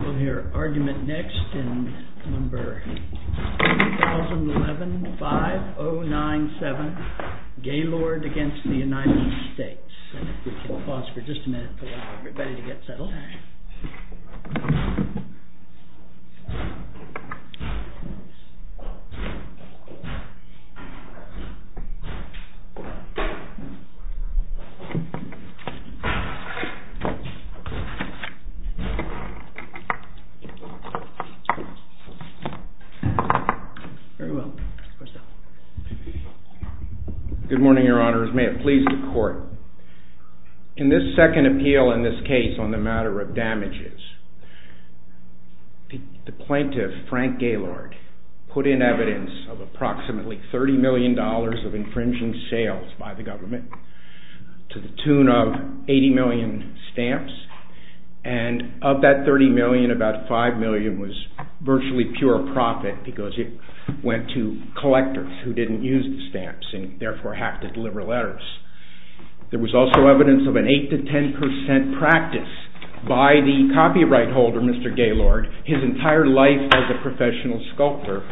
We'll hear argument next in number 1011-5097, Gaylord v. United States, and if we could pause for just a minute to allow everybody to get settled. Good morning, Your Honor. As may it please the Court, in this second appeal in this case on the matter of damages, the plaintiff, Frank Gaylord, put in evidence of approximately $30 million of infringing sales by the government to the tune of $80 million stamps, and of that $30 million, about $5 million was virtually pure profit because it went to collectors who didn't use the stamps and therefore have to deliver letters. There was also evidence of an 8-10% practice by the copyright holder, Mr. Gaylord, his entire life as a professional sculptor.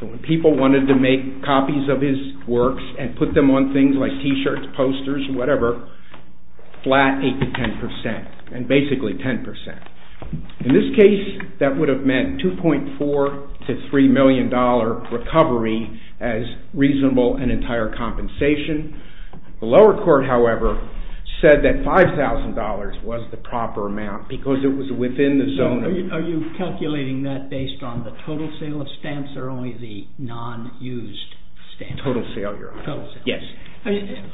When people wanted to make copies of his works and put them on things like T-shirts, posters, whatever, flat 8-10%, and basically 10%. In this case, that would have meant $2.4 to $3 million recovery as reasonable and entire compensation. The lower court, however, said that $5,000 was the proper amount because it was within the zone of… Are you calculating that based on the total sale of stamps or only the non-used stamps? Total sale, Your Honor. Total sale. It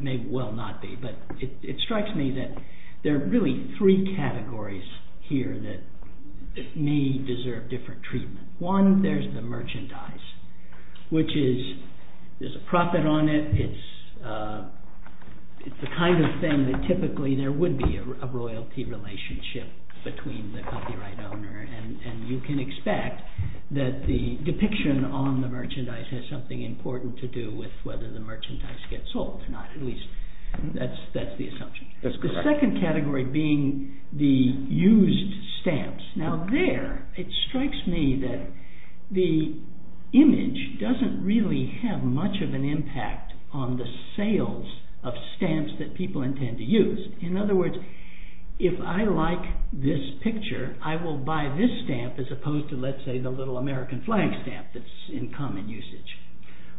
may well not be, but it strikes me that there are really three categories here that may deserve different treatment. One, there's the merchandise, which is, there's a profit on it, it's the kind of thing that typically there would be a royalty relationship between the copyright owner and you can expect that the depiction on the merchandise has something important to do with whether the merchandise gets sold or not. At least, that's the assumption. That's correct. The second category being the used stamps. Now there, it strikes me that the image doesn't really have much of an impact on the sales of stamps that people intend to use. In other words, if I like this picture, I will buy this stamp as opposed to, let's say, the little American flag stamp that's in common usage.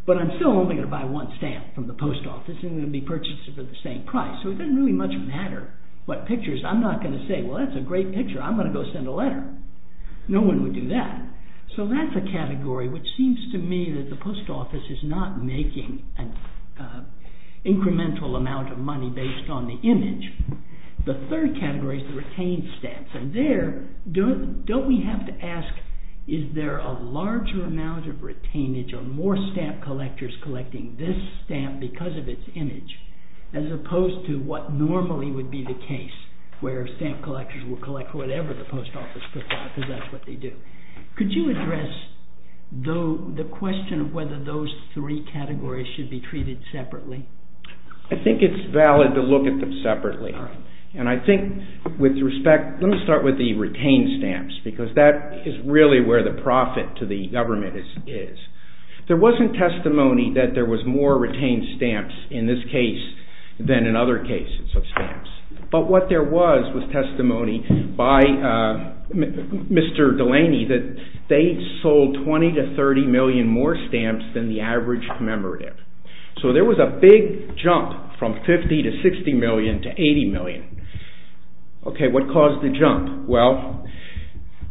But I'm still only going to buy one stamp from the post office and it will be purchased for the same price. So it doesn't really much matter what pictures. I'm not going to say, well, that's a great picture. I'm going to go send a letter. No one would do that. So that's a category which seems to me that the post office is not making an incremental amount of money based on the image. The third category is the retained stamps. And there, don't we have to ask, is there a larger amount of retainage or more stamp collectors collecting this stamp because of its image as opposed to what normally would be the case, where stamp collectors will collect whatever the post office puts out because that's what they do. Could you address the question of whether those three categories should be treated separately? I think it's valid to look at them separately. And I think with respect, let me start with the retained stamps because that is really where the profit to the government is. There wasn't testimony that there was more retained stamps in this case than in other cases of stamps. But what there was was testimony by Mr. Delaney that they sold 20 to 30 million more stamps than the average commemorative. So there was a big jump from 50 to 60 million to 80 million. Okay, what caused the jump? Well,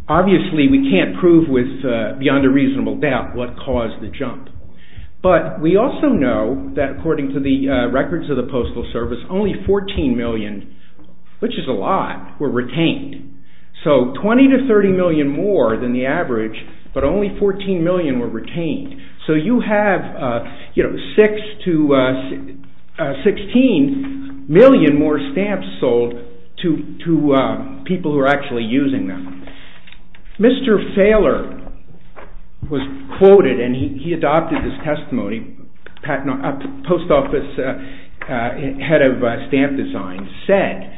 obviously we can't prove with beyond a reasonable doubt what caused the jump. But we also know that according to the records of the Postal Service, only 14 million, which is a lot, were retained. So 20 to 30 million more than the average, but only 14 million were retained. So you have 16 million more stamps sold to people who are actually using them. Mr. Fahler was quoted and he adopted this testimony. A post office head of stamp design said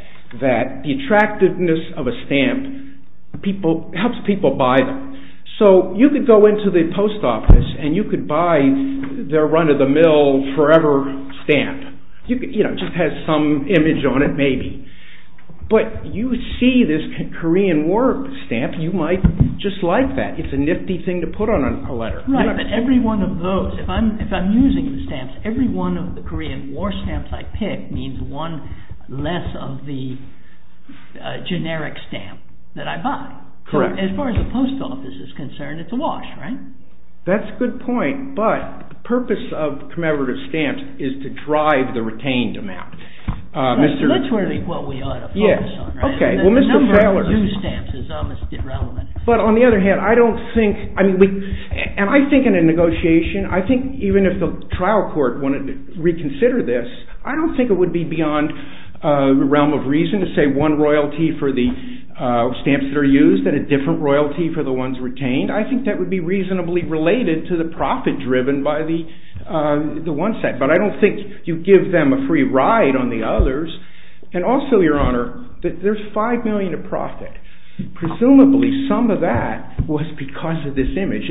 that the attractiveness of a stamp helps people buy them. So you could go into the post office and you could buy their run-of-the-mill forever stamp. It just has some image on it maybe. But you see this Korean War stamp, you might just like that. It's a nifty thing to put on a letter. Right, but every one of those, if I'm using the stamps, every one of the Korean War stamps I pick means one less of the generic stamp that I buy. Correct. As far as the post office is concerned, it's a wash, right? That's a good point, but the purpose of commemorative stamps is to drive the retained amount. That's really what we ought to focus on, right? Yes, okay. The number of used stamps is almost irrelevant. But on the other hand, I don't think, and I think in a negotiation, I think even if the trial court wanted to reconsider this, I don't think it would be beyond the realm of reason to say one royalty for the stamps that are used and a different royalty for the ones retained. I think that would be reasonably related to the profit driven by the one set. But I don't think you give them a free ride on the others. And also, Your Honor, there's $5 million of profit. Presumably some of that was because of this image.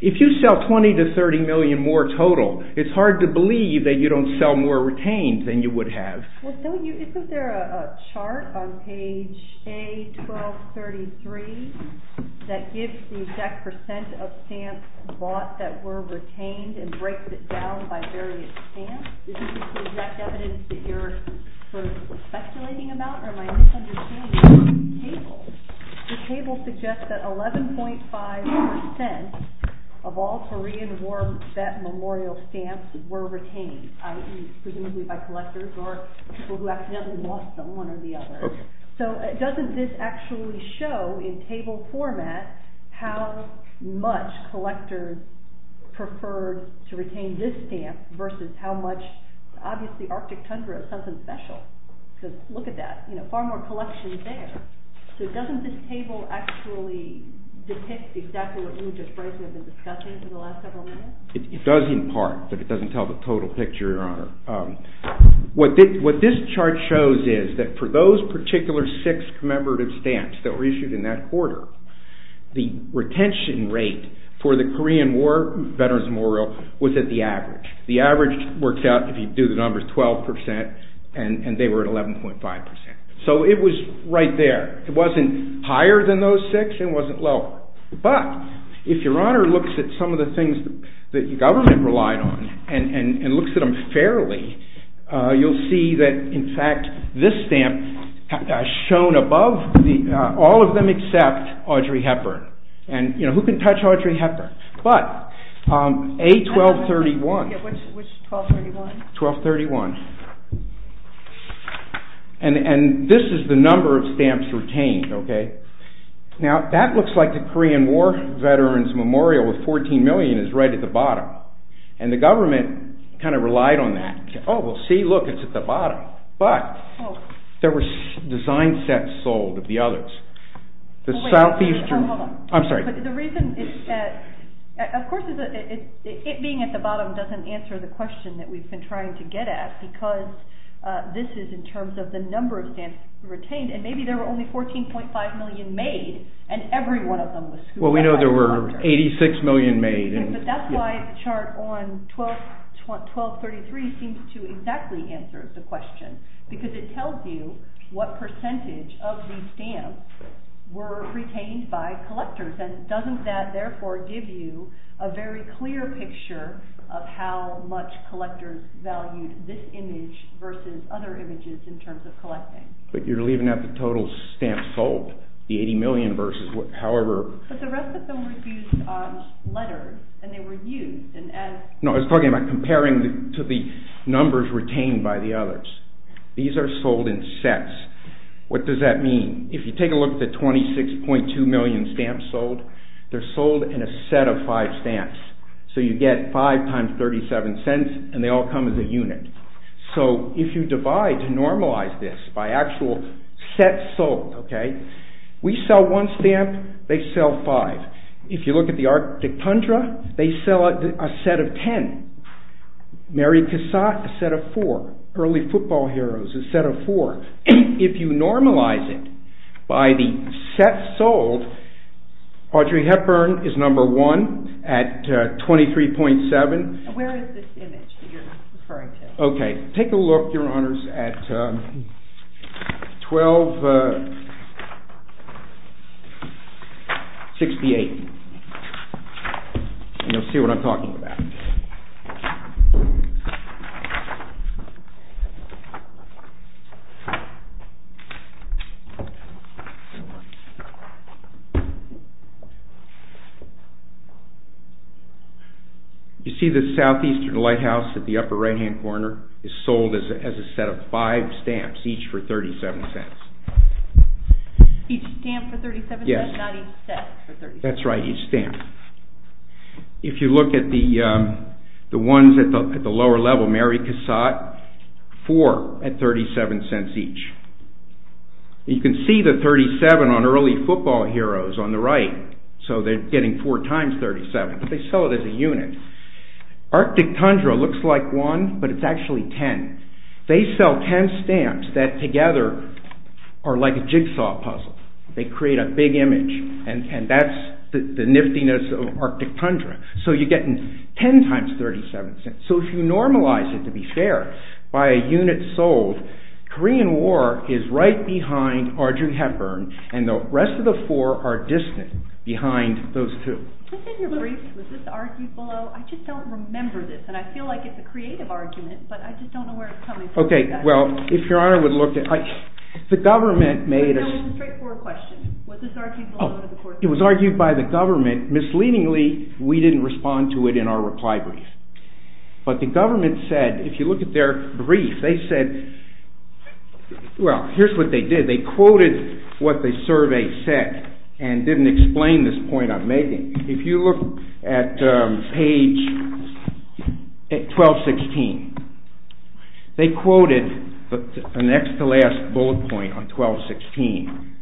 If you sell $20 to $30 million more total, it's hard to believe that you don't sell more retained than you would have. Isn't there a chart on page A1233 that gives the exact percent of stamps bought that were retained and breaks it down by various stamps? Is this the exact evidence that you're speculating about? Or am I misunderstanding? The table suggests that 11.5% of all Korean War vet memorial stamps were retained, i.e., presumably by collectors or people who accidentally lost them, one or the other. So doesn't this actually show in table format how much collectors preferred to retain this stamp versus how much – obviously Arctic Tundra is something special because look at that, far more collections there. So doesn't this table actually depict exactly what we've just briefly been discussing for the last several minutes? It does in part, but it doesn't tell the total picture, Your Honor. What this chart shows is that for those particular six commemorative stamps that were issued in that quarter, the retention rate for the Korean War Veterans Memorial was at the average. The average works out if you do the numbers 12% and they were at 11.5%. So it was right there. It wasn't higher than those six and it wasn't lower. But if Your Honor looks at some of the things that the government relied on and looks at them fairly, you'll see that in fact this stamp has shown above all of them except Audrey Hepburn. Who can touch Audrey Hepburn? But A1231. Which 1231? 1231. And this is the number of stamps retained. Now that looks like the Korean War Veterans Memorial with 14 million is right at the bottom. And the government kind of relied on that. Oh well see, look, it's at the bottom. But there were design sets sold of the others. The Southeastern... I'm sorry. The reason is that of course it being at the bottom doesn't answer the question that we've been trying to get at because this is in terms of the number of stamps retained and maybe there were only 14.5 million made and every one of them was... Well we know there were 86 million made. But that's why the chart on 1233 seems to exactly answer the question because it tells you what percentage of the stamps were retained by collectors and doesn't that therefore give you a very clear picture of how much collectors valued this image versus other images in terms of collecting. But you're leaving out the total stamps sold, the 80 million versus however... But the rest of them were used on letters and they were used and as... No, I was talking about comparing to the numbers retained by the others. These are sold in sets. What does that mean? If you take a look at the 26.2 million stamps sold, they're sold in a set of five stamps. So you get five times 37 cents and they all come as a unit. So if you divide and normalize this by actual sets sold, okay, we sell one stamp, they sell five. If you look at the Arctic Tundra, they sell a set of ten. Mary Cassatt, a set of four. Early Football Heroes, a set of four. If you normalize it by the sets sold, Audrey Hepburn is number one at 23.7. Where is this image that you're referring to? Okay, take a look, Your Honors, at 12.68. You'll see what I'm talking about. Okay. You see the Southeastern Lighthouse at the upper right-hand corner is sold as a set of five stamps, each for 37 cents. Each stamp for 37 cents? Yes. Not each set for 37 cents? That's right, each stamp. If you look at the ones at the lower level, Mary Cassatt, four at 37 cents each. You can see the 37 on Early Football Heroes on the right, so they're getting four times 37, but they sell it as a unit. Arctic Tundra looks like one, but it's actually ten. They sell ten stamps that together are like a jigsaw puzzle. They create a big image, and that's the niftiness of Arctic Tundra. So you're getting ten times 37 cents. So if you normalize it, to be fair, by a unit sold, Korean War is right behind Audrey Hepburn, and the rest of the four are distant behind those two. Was this in your brief? Was this argued below? I just don't remember this, and I feel like it's a creative argument, but I just don't know where it's coming from. Okay, well, if Your Honor would look at it, the government made a... It was a straightforward question. Was this argued below? It was argued by the government. Misleadingly, we didn't respond to it in our reply brief. But the government said, if you look at their brief, they said, well, here's what they did. They quoted what the survey said and didn't explain this point I'm making. If you look at page 1216, they quoted the next-to-last bullet point on 1216.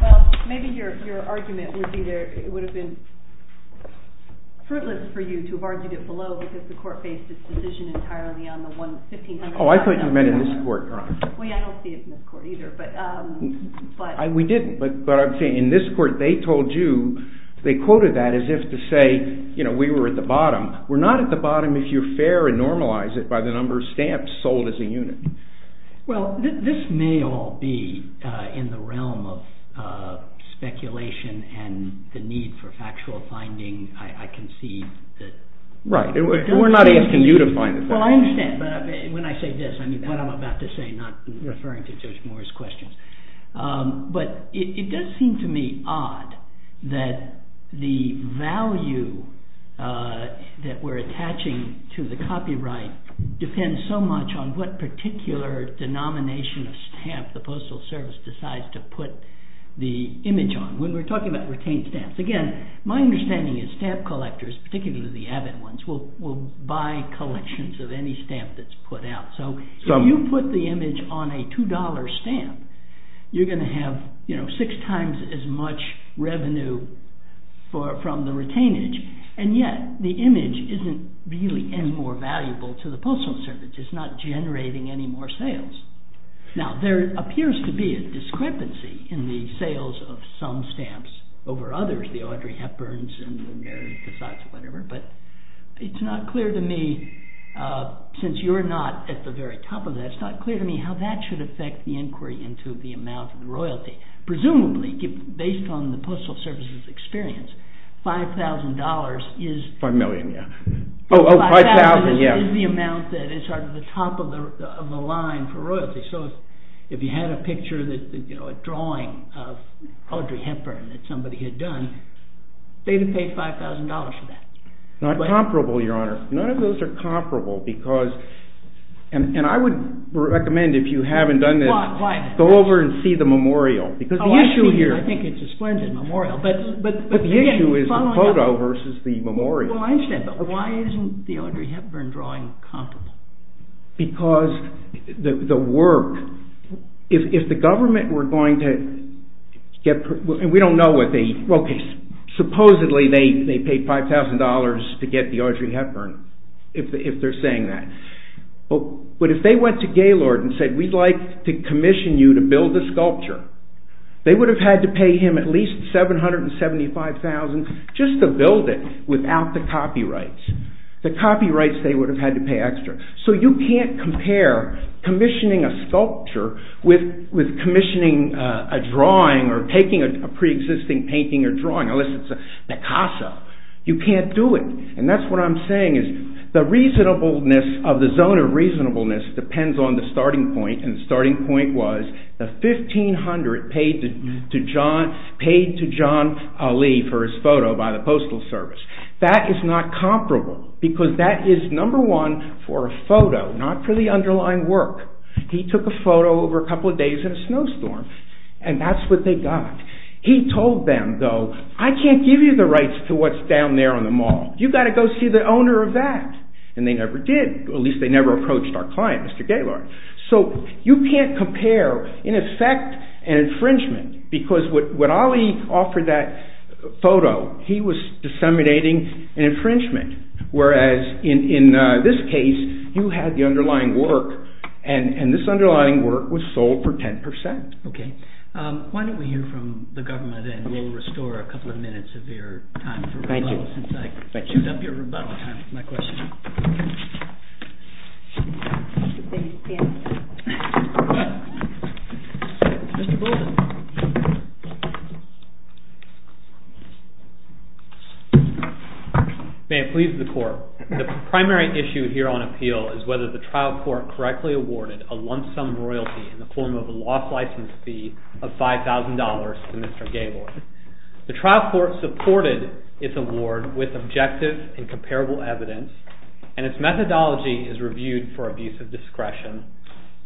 Well, maybe your argument would be there. It would have been fruitless for you to have argued it below because the court based its decision entirely on the 1500... Oh, I thought you meant in this court, Your Honor. Well, yeah, I don't see it in this court either, but... We didn't, but I'm saying in this court they told you, they quoted that as if to say, you know, we were at the bottom. We're not at the bottom if you're fair and normalize it by the number of stamps sold as a unit. Well, this may all be in the realm of speculation and the need for factual finding. I can see that... Right, we're not asking you to find it. Well, I understand, but when I say this, I mean what I'm about to say, not referring to Judge Moore's questions. But it does seem to me odd that the value that we're attaching to the copyright depends so much on what particular denomination of stamp the Postal Service decides to put the image on. When we're talking about retained stamps, again, my understanding is stamp collectors, particularly the avid ones, will buy collections of any stamp that's put out. So if you put the image on a $2 stamp, you're going to have, you know, six times as much revenue from the retainage, and yet the image isn't really any more valuable to the Postal Service. It's not generating any more sales. Now, there appears to be a discrepancy in the sales of some stamps over others, the Audrey Hepburns and the Mary Cassatts or whatever, but it's not clear to me, since you're not at the very top of that, it's not clear to me how that should affect the inquiry into the amount of royalty. Presumably, based on the Postal Service's experience, $5,000 is... Five million, yeah. $5,000 is the amount that is sort of the top of the line for royalty. So if you had a picture, you know, a drawing of Audrey Hepburn that somebody had done, they would pay $5,000 for that. Not comparable, Your Honor. None of those are comparable, because... And I would recommend, if you haven't done this, go over and see the memorial, because the issue here... I think it's a splendid memorial, but... But the issue is the photo versus the memorial. Well, I understand, but why isn't the Audrey Hepburn drawing comparable? Because the work... If the government were going to get... And we don't know what they... Okay, supposedly they paid $5,000 to get the Audrey Hepburn, if they're saying that. But if they went to Gaylord and said, we'd like to commission you to build the sculpture, they would have had to pay him at least $775,000 just to build it without the copyrights. The copyrights, they would have had to pay extra. So you can't compare commissioning a sculpture with commissioning a drawing or taking a pre-existing painting or drawing, unless it's a Picasso. You can't do it. And that's what I'm saying is the reasonableness of the zone of reasonableness depends on the starting point, and the starting point was the $1,500 paid to John Ali for his photo by the Postal Service. That is not comparable, because that is number one for a photo, not for the underlying work. He took a photo over a couple of days in a snowstorm, and that's what they got. He told them, though, I can't give you the rights to what's down there on the mall. You've got to go see the owner of that. And they never did. At least they never approached our client, Mr. Gaylord. So you can't compare, in effect, an infringement, because what Ali offered that photo, he was disseminating an infringement, whereas in this case, you had the underlying work, and this underlying work was sold for 10%. Okay. Why don't we hear from the government, and we'll restore a couple of minutes of your time for rebuttal. Thank you. My question. Thank you. May it please the Court. The primary issue here on appeal is whether the trial court correctly awarded a lump sum royalty in the form of a lost license fee of $5,000 to Mr. Gaylord. The trial court supported its award with objective and comparable evidence, and its methodology is reviewed for abuse of discretion,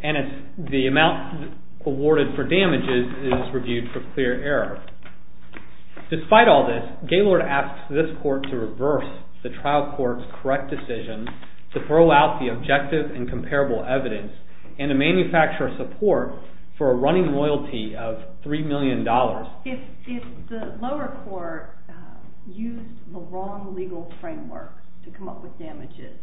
and the amount awarded for damages is reviewed for clear error. Despite all this, Gaylord asked this court to reverse the trial court's correct decision to throw out the objective and comparable evidence and to manufacture a support for a running loyalty of $3 million. If the lower court used the wrong legal framework to come up with damages,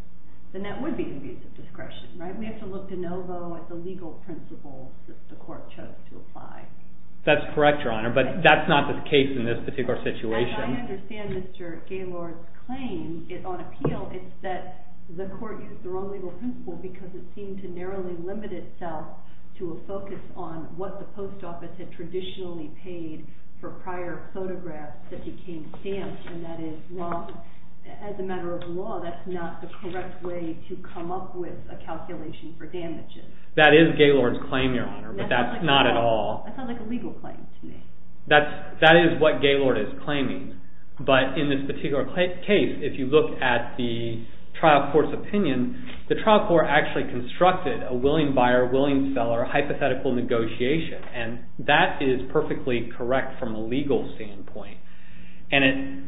then that would be abuse of discretion, right? We have to look de novo at the legal principles that the court chose to apply. That's correct, Your Honor, but that's not the case in this particular situation. I understand Mr. Gaylord's claim. On appeal, it's that the court used the wrong legal principle because it seemed to narrowly limit itself to a focus on what the post office had traditionally paid for prior photographs that became stamped. As a matter of law, that's not the correct way to come up with a calculation for damages. That is Gaylord's claim, Your Honor, but that's not at all... That sounds like a legal claim to me. That is what Gaylord is claiming, but in this particular case, if you look at the trial court's opinion, the trial court actually constructed a willing buyer-willing seller hypothetical negotiation, and that is perfectly correct from a legal standpoint, and it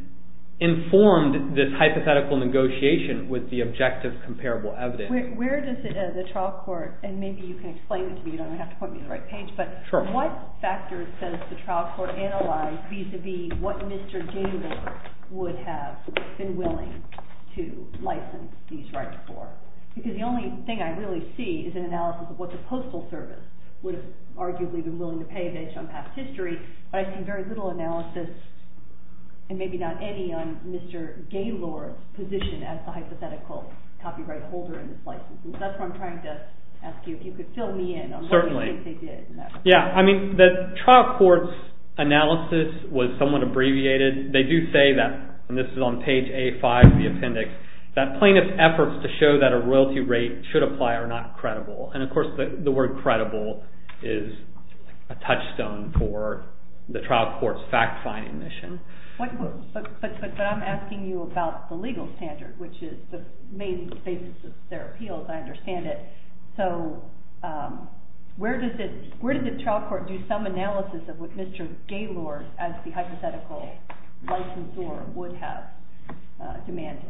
informed this hypothetical negotiation with the objective comparable evidence. Where does the trial court, and maybe you can explain it to me, you don't have to point me to the right page, but what factors does the trial court analyze vis-à-vis what Mr. Gaylord would have been willing to license these rights for? Because the only thing I really see is an analysis of what the postal service would have arguably been willing to pay based on past history, but I see very little analysis, and maybe not any on Mr. Gaylord's position as the hypothetical copyright holder in this license. That's what I'm trying to ask you, if you could fill me in on what you think they did. Yeah, I mean, the trial court's analysis was somewhat abbreviated. They do say that, and this is on page A5 of the appendix, that plaintiff's efforts to show that a royalty rate should apply are not credible, and of course the word credible is a touchstone for the trial court's fact-finding mission. But I'm asking you about the legal standard, which is the main basis of their appeals, I understand it. So where does the trial court do some analysis of what Mr. Gaylord, as the hypothetical licensor, would have demanded?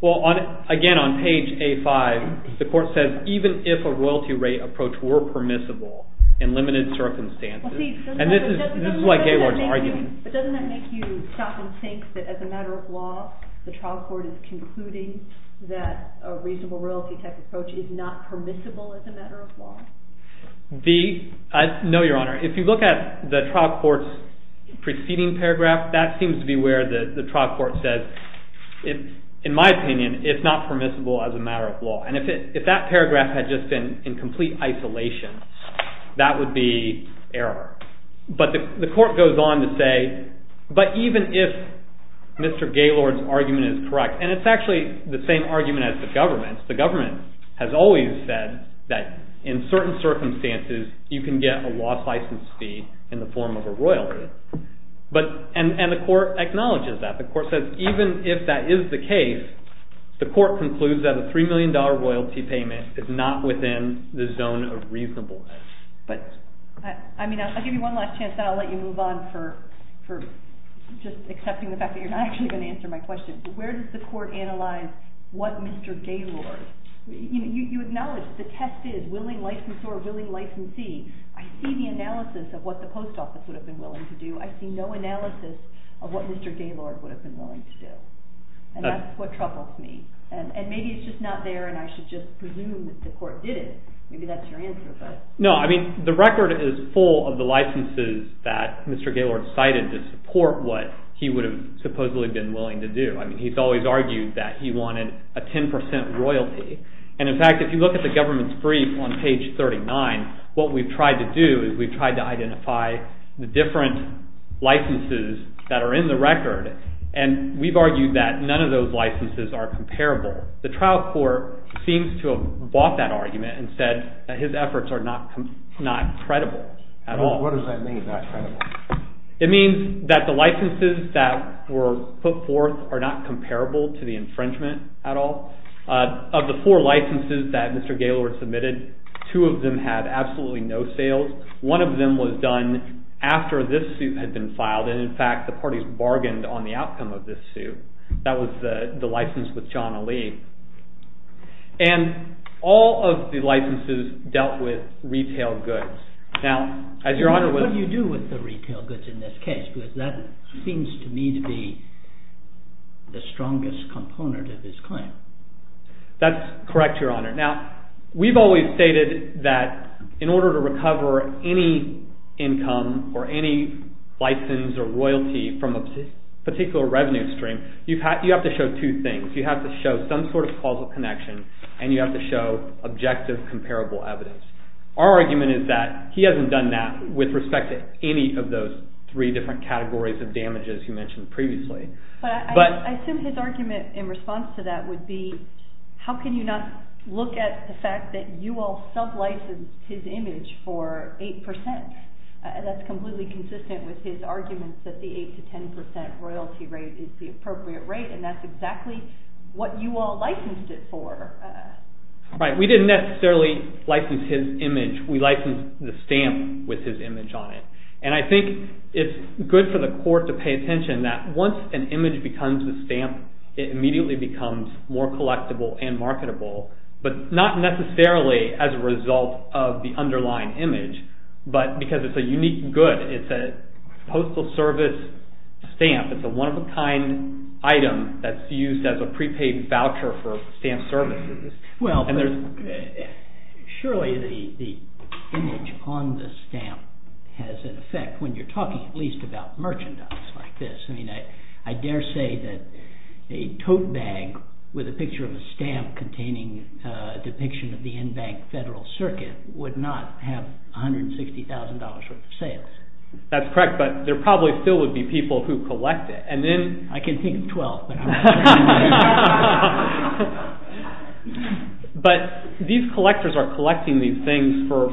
Well, again, on page A5, the court says, even if a royalty rate approach were permissible in limited circumstances, and this is like Gaylord's argument. But doesn't that make you stop and think that as a matter of law, the trial court is concluding that a reasonable royalty type approach is not permissible as a matter of law? No, Your Honor. If you look at the trial court's preceding paragraph, that seems to be where the trial court says, in my opinion, it's not permissible as a matter of law. And if that paragraph had just been in complete isolation, that would be error. But the court goes on to say, but even if Mr. Gaylord's argument is correct, and it's actually the same argument as the government's. The government has always said that in certain circumstances you can get a lost license fee in the form of a royalty. And the court acknowledges that. The court says, even if that is the case, the court concludes that a $3 million royalty payment is not within the zone of reasonableness. I mean, I'll give you one last chance, then I'll let you move on for just accepting the fact that you're not actually going to answer my question. Where does the court analyze what Mr. Gaylord... You acknowledge that the test is willing licensor, willing licensee. I see the analysis of what the post office would have been willing to do. I see no analysis of what Mr. Gaylord would have been willing to do. And that's what troubles me. And maybe it's just not there, and I should just presume that the court did it. Maybe that's your answer, but... No, I mean, the record is full of the licenses that Mr. Gaylord cited to support what he would have supposedly been willing to do. I mean, he's always argued that he wanted a 10% royalty. And in fact, if you look at the government's brief on page 39, what we've tried to do is we've tried to identify the different licenses that are in the record, and we've argued that none of those licenses are comparable. The trial court seems to have bought that argument and said that his efforts are not credible at all. What does that mean, not credible? It means that the licenses that were put forth are not comparable to the infringement at all. Of the four licenses that Mr. Gaylord submitted, two of them had absolutely no sales. One of them was done after this suit had been filed, and in fact the parties bargained on the outcome of this suit. That was the license with John Ali. And all of the licenses dealt with retail goods. Now, as Your Honor was... What do you do with the retail goods in this case? Because that seems to me to be the strongest component of his claim. That's correct, Your Honor. Now, we've always stated that in order to recover any income or any license or royalty from a particular revenue stream, you have to show two things. You have to show some sort of causal connection and you have to show objective comparable evidence. Our argument is that he hasn't done that with respect to any of those three different categories of damages you mentioned previously. But I assume his argument in response to that would be how can you not look at the fact that you all sub-licensed his image for 8%? That's completely consistent with his argument that the 8% to 10% royalty rate is the appropriate rate, and that's exactly what you all licensed it for. Right. We didn't necessarily license his image. We licensed the stamp with his image on it. And I think it's good for the court to pay attention that once an image becomes a stamp, it immediately becomes more collectible and marketable, but not necessarily as a result of the underlying image, but because it's a unique good. It's a postal service stamp. It's a one-of-a-kind item that's used as a prepaid voucher for stamp services. Surely the image on the stamp has an effect when you're talking at least about merchandise like this. I dare say that a tote bag with a picture of a stamp containing a depiction of the Enbank Federal Circuit would not have $160,000 worth of sales. That's correct, but there probably still would be people who collect it. I can think of 12, but I'm not sure. But these collectors are collecting these things for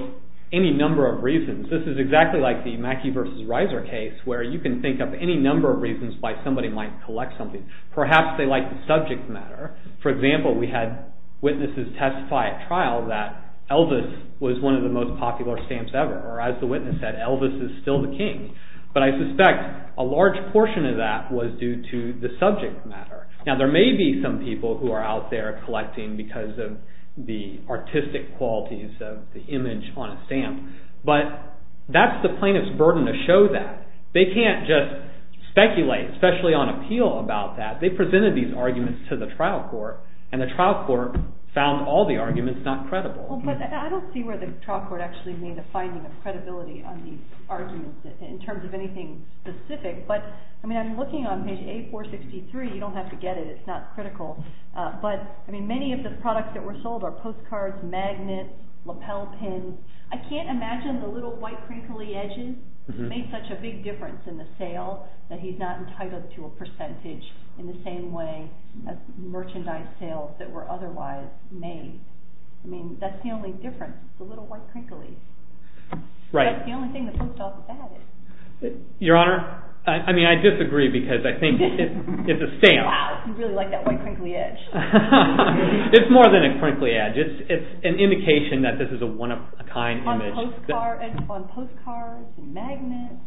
any number of reasons. This is exactly like the Mackey v. Reiser case where you can think of any number of reasons why somebody might collect something. Perhaps they like the subject matter. For example, we had witnesses testify at trial that Elvis was one of the most popular stamps ever, or as the witness said, Elvis is still the king. But I suspect a large portion of that was due to the subject matter. Now there may be some people who are out there collecting because of the artistic qualities of the image on a stamp, but that's the plaintiff's burden to show that. They can't just speculate, especially on appeal, about that. They presented these arguments to the trial court, and the trial court found all the arguments not credible. I don't see where the trial court actually made a finding of credibility on these arguments in terms of anything specific, but I'm looking on page A463. You don't have to get it. It's not critical. But many of the products that were sold are postcards, magnets, lapel pins. I can't imagine the little white crinkly edges made such a big difference in the sale that he's not entitled to a percentage in the same way as merchandise sales that were otherwise made. I mean, that's the only difference, the little white crinkly. That's the only thing that flips off the bat. Your Honor, I disagree because I think it's a stamp. Wow, I really like that white crinkly edge. It's more than a crinkly edge. It's an indication that this is a one-of-a-kind image. On postcards, magnets?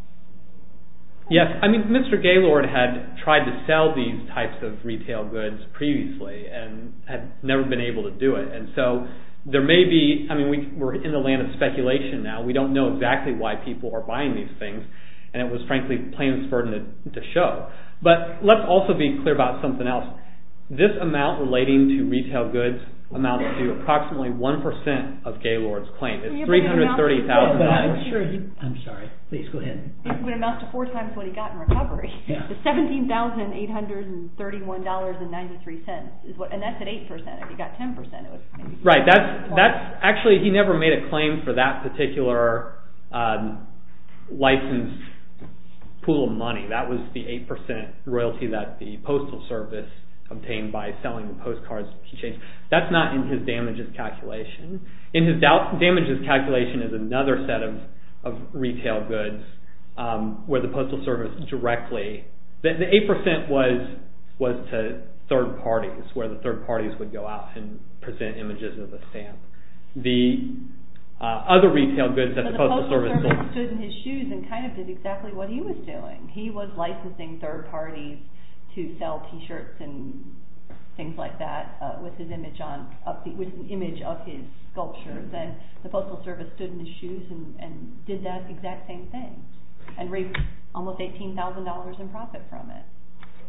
Yes, I mean, Mr. Gaylord had tried to sell these types of retail goods previously and had never been able to do it, and so there may be, I mean, we're in the land of speculation now. We don't know exactly why people are buying these things, and it was frankly plain as burden to show. But let's also be clear about something else. This amount relating to retail goods amounts to approximately 1% of Gaylord's claim. It's $330,000. I'm sorry. Please, go ahead. It amounts to four times what he got in recovery. It's $17,831.93, and that's at 8%. If he got 10%, it would have been... Right. Actually, he never made a claim for that particular licensed pool of money. That was the 8% royalty that the Postal Service obtained by selling the postcards he changed. That's not in his damages calculation. In his damages calculation is another set of retail goods where the Postal Service directly... The 8% was to third parties, where the third parties would go out and present images of the stamp. The other retail goods that the Postal Service... If he was licensing third parties to sell T-shirts and things like that with an image of his sculpture, then the Postal Service stood in his shoes and did that exact same thing and raised almost $18,000 in profit from it.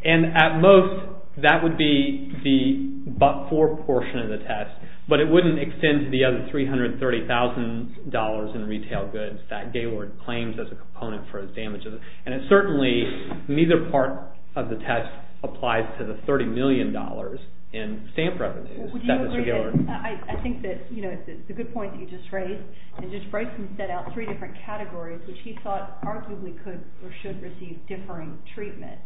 At most, that would be the but-for portion of the test, but it wouldn't extend to the other $330,000 in retail goods that Gaylord claims as a component for his damages. Certainly, neither part of the test applies to the $30 million in stamp revenues that Mr. Gaylord... I think that it's a good point that you just raised. Judge Bryson set out three different categories which he thought arguably could or should receive differing treatment.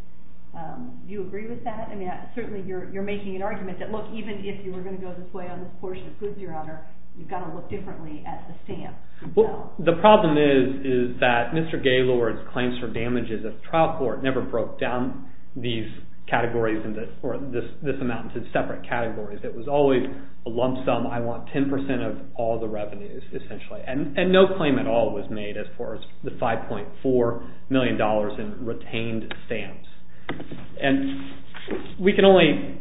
Do you agree with that? Certainly, you're making an argument that even if you were going to go this way on this portion of goods, Your Honor, you've got to look differently at the stamp. The problem is that Mr. Gaylord's claims for damages at the trial court never broke down these categories or this amount into separate categories. It was always a lump sum. I want 10% of all the revenues essentially, and no claim at all was made as far as the $5.4 million in retained stamps. We can only...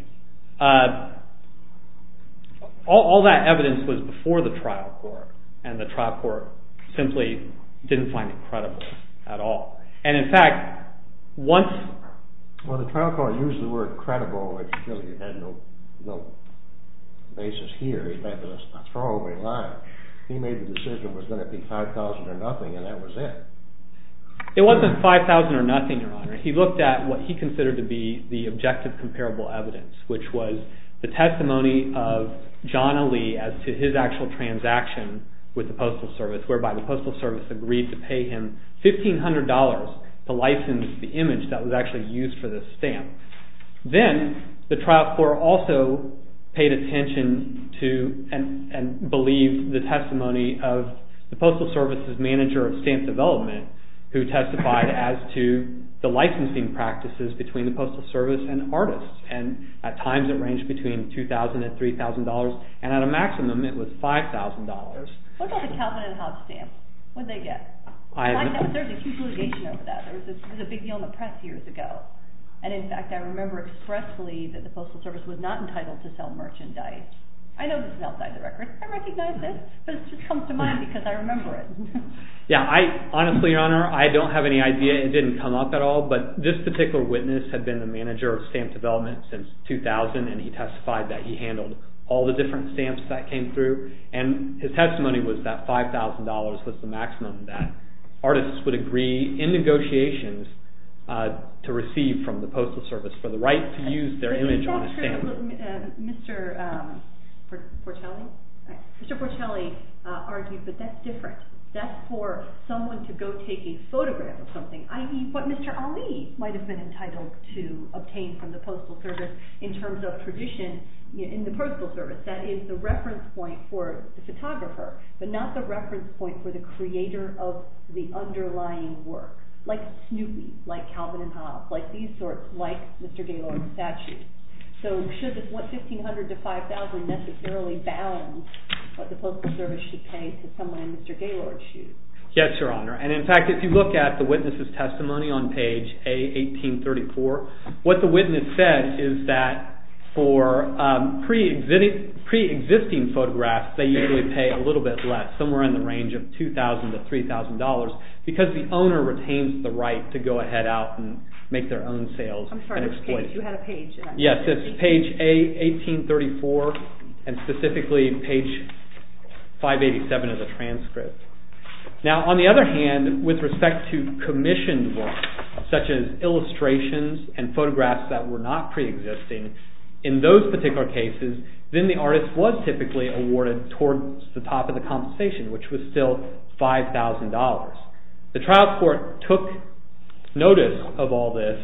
All that evidence was before the trial court, and the trial court simply didn't find it credible at all. In fact, once... Well, the trial court used the word credible, which really had no basis here. It meant a throwaway line. He made the decision it was going to be $5,000 or nothing, and that was it. It wasn't $5,000 or nothing, Your Honor. He looked at what he considered to be the objective comparable evidence, which was the testimony of John Ali as to his actual transaction with the Postal Service, whereby the Postal Service agreed to pay him $1,500 to license the image that was actually used for the stamp. Then the trial court also paid attention to and believed the testimony of the Postal Service's manager of stamp development, who testified as to the licensing practices between the Postal Service and artists, and at times it ranged between $2,000 and $3,000, and at a maximum it was $5,000. What about the Calvin and Hobbs stamp? What did they get? There was a huge litigation over that. There was a big deal in the press years ago, and in fact I remember expressly that the Postal Service was not entitled to sell merchandise. I know this is outside the records. I recognize this, but it just comes to mind because I remember it. Honestly, Your Honor, I don't have any idea. It didn't come up at all, but this particular witness had been the manager of stamp development since 2000, and he testified that he handled all the different stamps that came through, and his testimony was that $5,000 was the maximum that artists would agree in negotiations to receive from the Postal Service for the right to use their image on a stamp. Mr. Portelli argued that that's different. That's for someone to go take a photograph of something, i.e. what Mr. Ali might have been entitled to obtain from the Postal Service in terms of tradition in the Postal Service. That is the reference point for the photographer, but not the reference point for the creator of the underlying work, like Snoopy, like Calvin and Hobbs, like these sorts, like Mr. Gaylord's statue. So should this $1,500 to $5,000 necessarily balance what the Postal Service should pay to someone Mr. Gaylord's shoes? Yes, Your Honor. In fact, if you look at the witness's testimony on page A1834, what the witness said is that for pre-existing photographs, they usually pay a little bit less, somewhere in the range of $2,000 to $3,000, because the owner retains the right to go ahead out and make their own sales and exploit it. Yes, that's page A1834, and specifically page 587 of the transcript. Now, on the other hand, with respect to commissioned work, such as illustrations and photographs that were not pre-existing, in those particular cases, then the artist was typically awarded towards the top of the compensation, which was still $5,000. The trial court took notice of all this,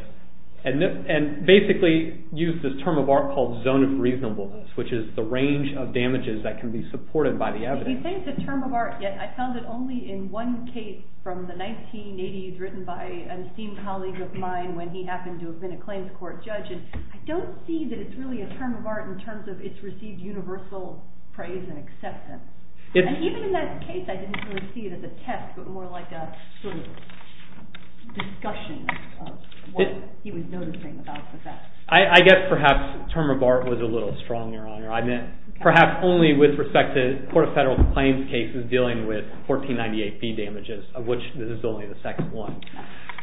and basically used this term of art called zone of reasonableness, which is the range of damages that can be supported by the evidence. You say it's a term of art, yet I found it only in one case from the 1980s, written by an esteemed colleague of mine when he happened to have been a claims court judge, and I don't see that it's really a term of art in terms of it's received universal praise and acceptance. And even in that case, I didn't really see it as a test, but more like a sort of discussion of what he was noticing about the fact. I guess perhaps the term of art was a little strong, Your Honor. I meant perhaps only with respect to the Court of Federal Complaints cases dealing with 1498B damages, of which this is only the second one.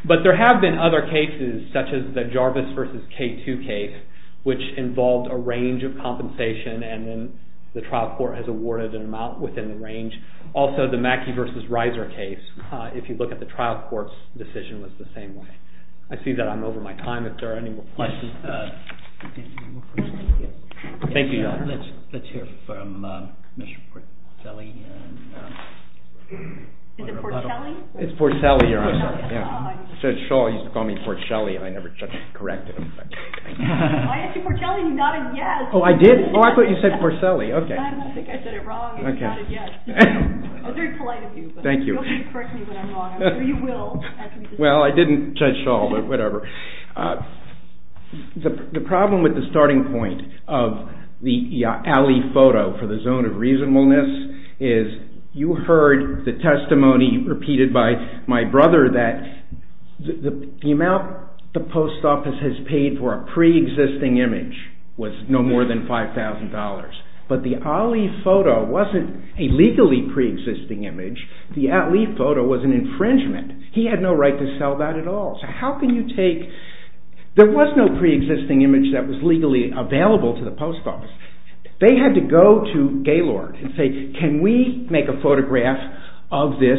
But there have been other cases, such as the Jarvis v. K2 case, which involved a range of compensation, and then the trial court has awarded an amount within the range. Also, the Mackey v. Reiser case, if you look at the trial court's decision, was the same way. I see that I'm over my time, if there are any more questions. Thank you, Your Honor. Let's hear from Commissioner Porcelli. Is it Porcelli? It's Porcelli, Your Honor. I said Shaw used to call me Porcelli, and I never corrected him. I asked you Porcelli, not a yes. Oh, I did? Oh, I thought you said Porcelli. I think I said it wrong, and it's not a yes. I was very polite of you, but you'll correct me when I'm wrong. I'm sure you will. Well, I didn't judge Shaw, but whatever. The problem with the starting point of the Alley photo for the zone of reasonableness is you heard the testimony repeated by my brother that the amount the post office has paid for a pre-existing image was no more than $5,000. But the Alley photo wasn't a legally pre-existing image. The Alley photo was an infringement. He had no right to sell that at all. So how can you take... There was no pre-existing image that was legally available to the post office. They had to go to Gaylord and say, Can we make a photograph of this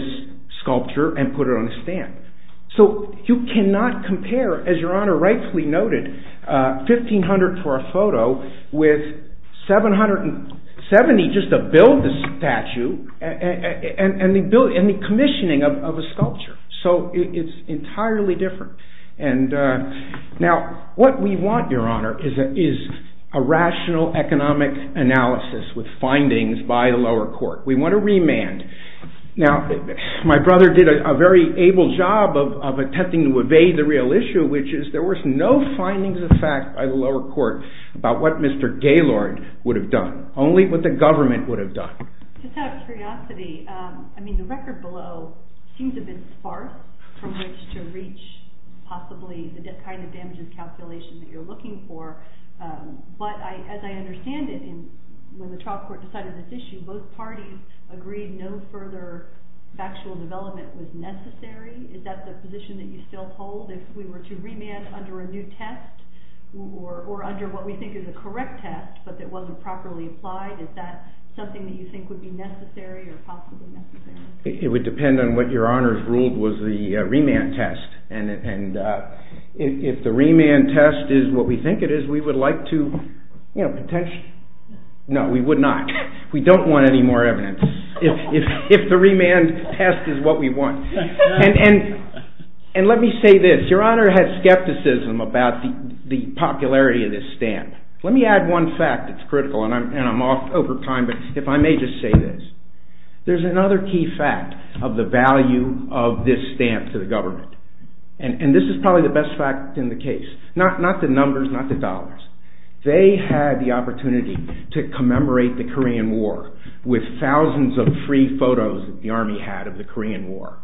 sculpture and put it on a stamp? So you cannot compare, as Your Honor rightfully noted, $1,500 for a photo with $770 just to build this statue and the commissioning of a sculpture. So it's entirely different. Now, what we want, Your Honor, is a rational economic analysis with findings by the lower court. We want a remand. Now, my brother did a very able job of attempting to evade the real issue, which is there was no findings of fact by the lower court about what Mr. Gaylord would have done, only what the government would have done. Just out of curiosity, the record below seems a bit sparse from which to reach possibly the kind of damages calculation that you're looking for. But as I understand it, when the trial court decided this issue, both parties agreed no further factual development was necessary. Is that the position that you still hold? If we were to remand under a new test or under what we think is a correct test but that wasn't properly applied, is that something that you think would be necessary or possibly necessary? It would depend on what Your Honor has ruled was the remand test. And if the remand test is what we think it is, we would like to, you know, potentially... No, we would not. We don't want any more evidence. If the remand test is what we want. And let me say this. Your Honor has skepticism about the popularity of this stand. Let me add one fact that's critical, and I'm off over time, but if I may just say this. There's another key fact of the value of this stamp to the government. And this is probably the best fact in the case. Not the numbers, not the dollars. They had the opportunity to commemorate the Korean War with thousands of free photos that the Army had of the Korean War.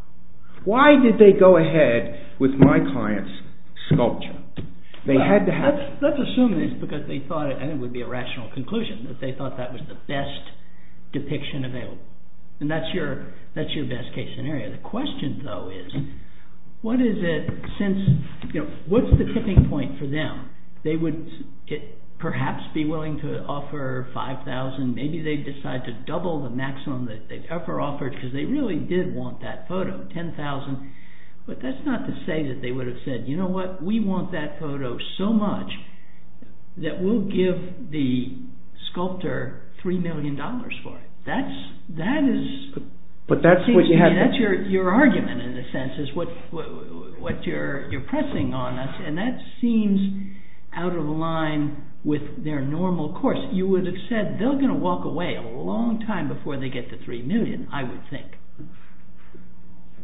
Why did they go ahead with my client's sculpture? They had to have... Let's assume this because they thought, and it would be a rational conclusion, that they thought that was the best depiction available. And that's your best case scenario. The question, though, is what is it since... What's the tipping point for them? They would perhaps be willing to offer $5,000. Maybe they'd decide to double the maximum that they've ever offered because they really did want that photo, $10,000. But that's not to say that they would have said, you know what, we want that photo so much that we'll give the sculptor $3 million for it. That is... That's your argument, in a sense, is what you're pressing on us. And that seems out of line with their normal course. You would have said they're going to walk away a long time before they get the $3 million, I would think.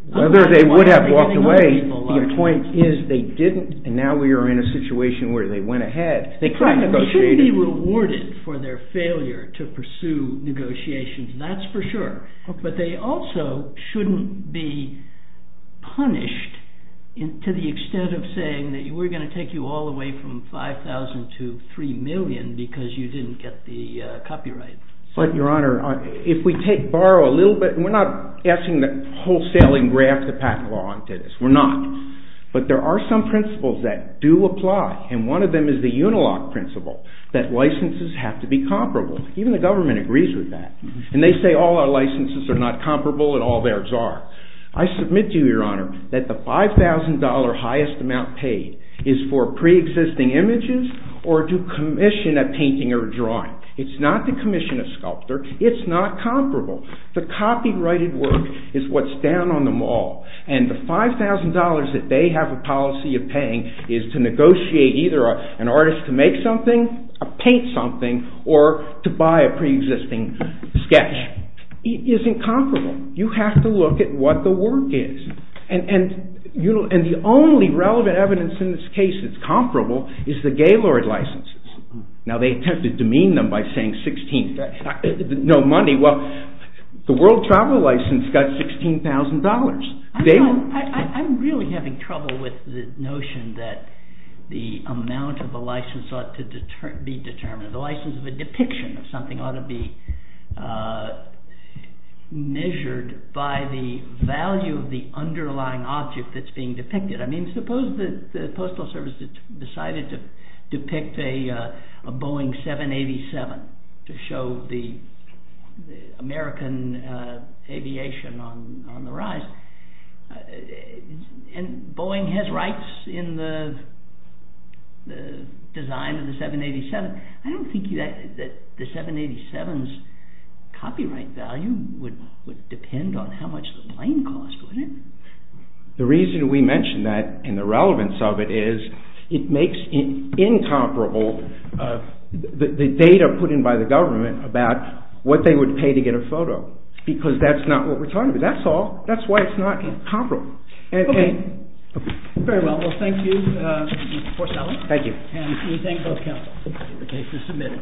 Whether they would have walked away, the point is they didn't, and now we are in a situation where they went ahead. They shouldn't be rewarded for their failure to pursue negotiations. That's for sure. But they also shouldn't be punished to the extent of saying that we're going to take you all the way from $5,000 to $3 million because you didn't get the copyright. But, Your Honor, if we borrow a little bit... We're not asking the wholesaling graph to pack along to this. We're not. But there are some principles that do apply, and one of them is the Unilock principle that licenses have to be comparable. Even the government agrees with that. And they say all our licenses are not comparable and all theirs are. I submit to you, Your Honor, that the $5,000 highest amount paid is for pre-existing images or to commission a painting or a drawing. It's not to commission a sculptor. It's not comparable. The copyrighted work is what's down on the mall, and the $5,000 that they have a policy of paying is to negotiate either an artist to make something, paint something, or to buy a pre-existing sketch. It isn't comparable. You have to look at what the work is. And the only relevant evidence in this case that's comparable is the Gaylord licenses. Now, they attempted to demean them by saying 16th, no money. Well, the World Travel License got $16,000. I'm really having trouble with the notion that the amount of a license ought to be determined. The license of a depiction of something ought to be measured by the value of the underlying object that's being depicted. I mean, suppose the Postal Service decided to depict a Boeing 787 to show the American aviation on the rise. And Boeing has rights in the design of the 787. I don't think that the 787's copyright value would depend on how much the plane cost, would it? The reason we mention that and the relevance of it is it makes incomparable the data put in by the government about what they would pay to get a photo. Because that's not what we're talking about. That's all. That's why it's not comparable. OK. Very well. Well, thank you, Mr. Forsythe. Thank you. And we thank both counsels. The case is submitted.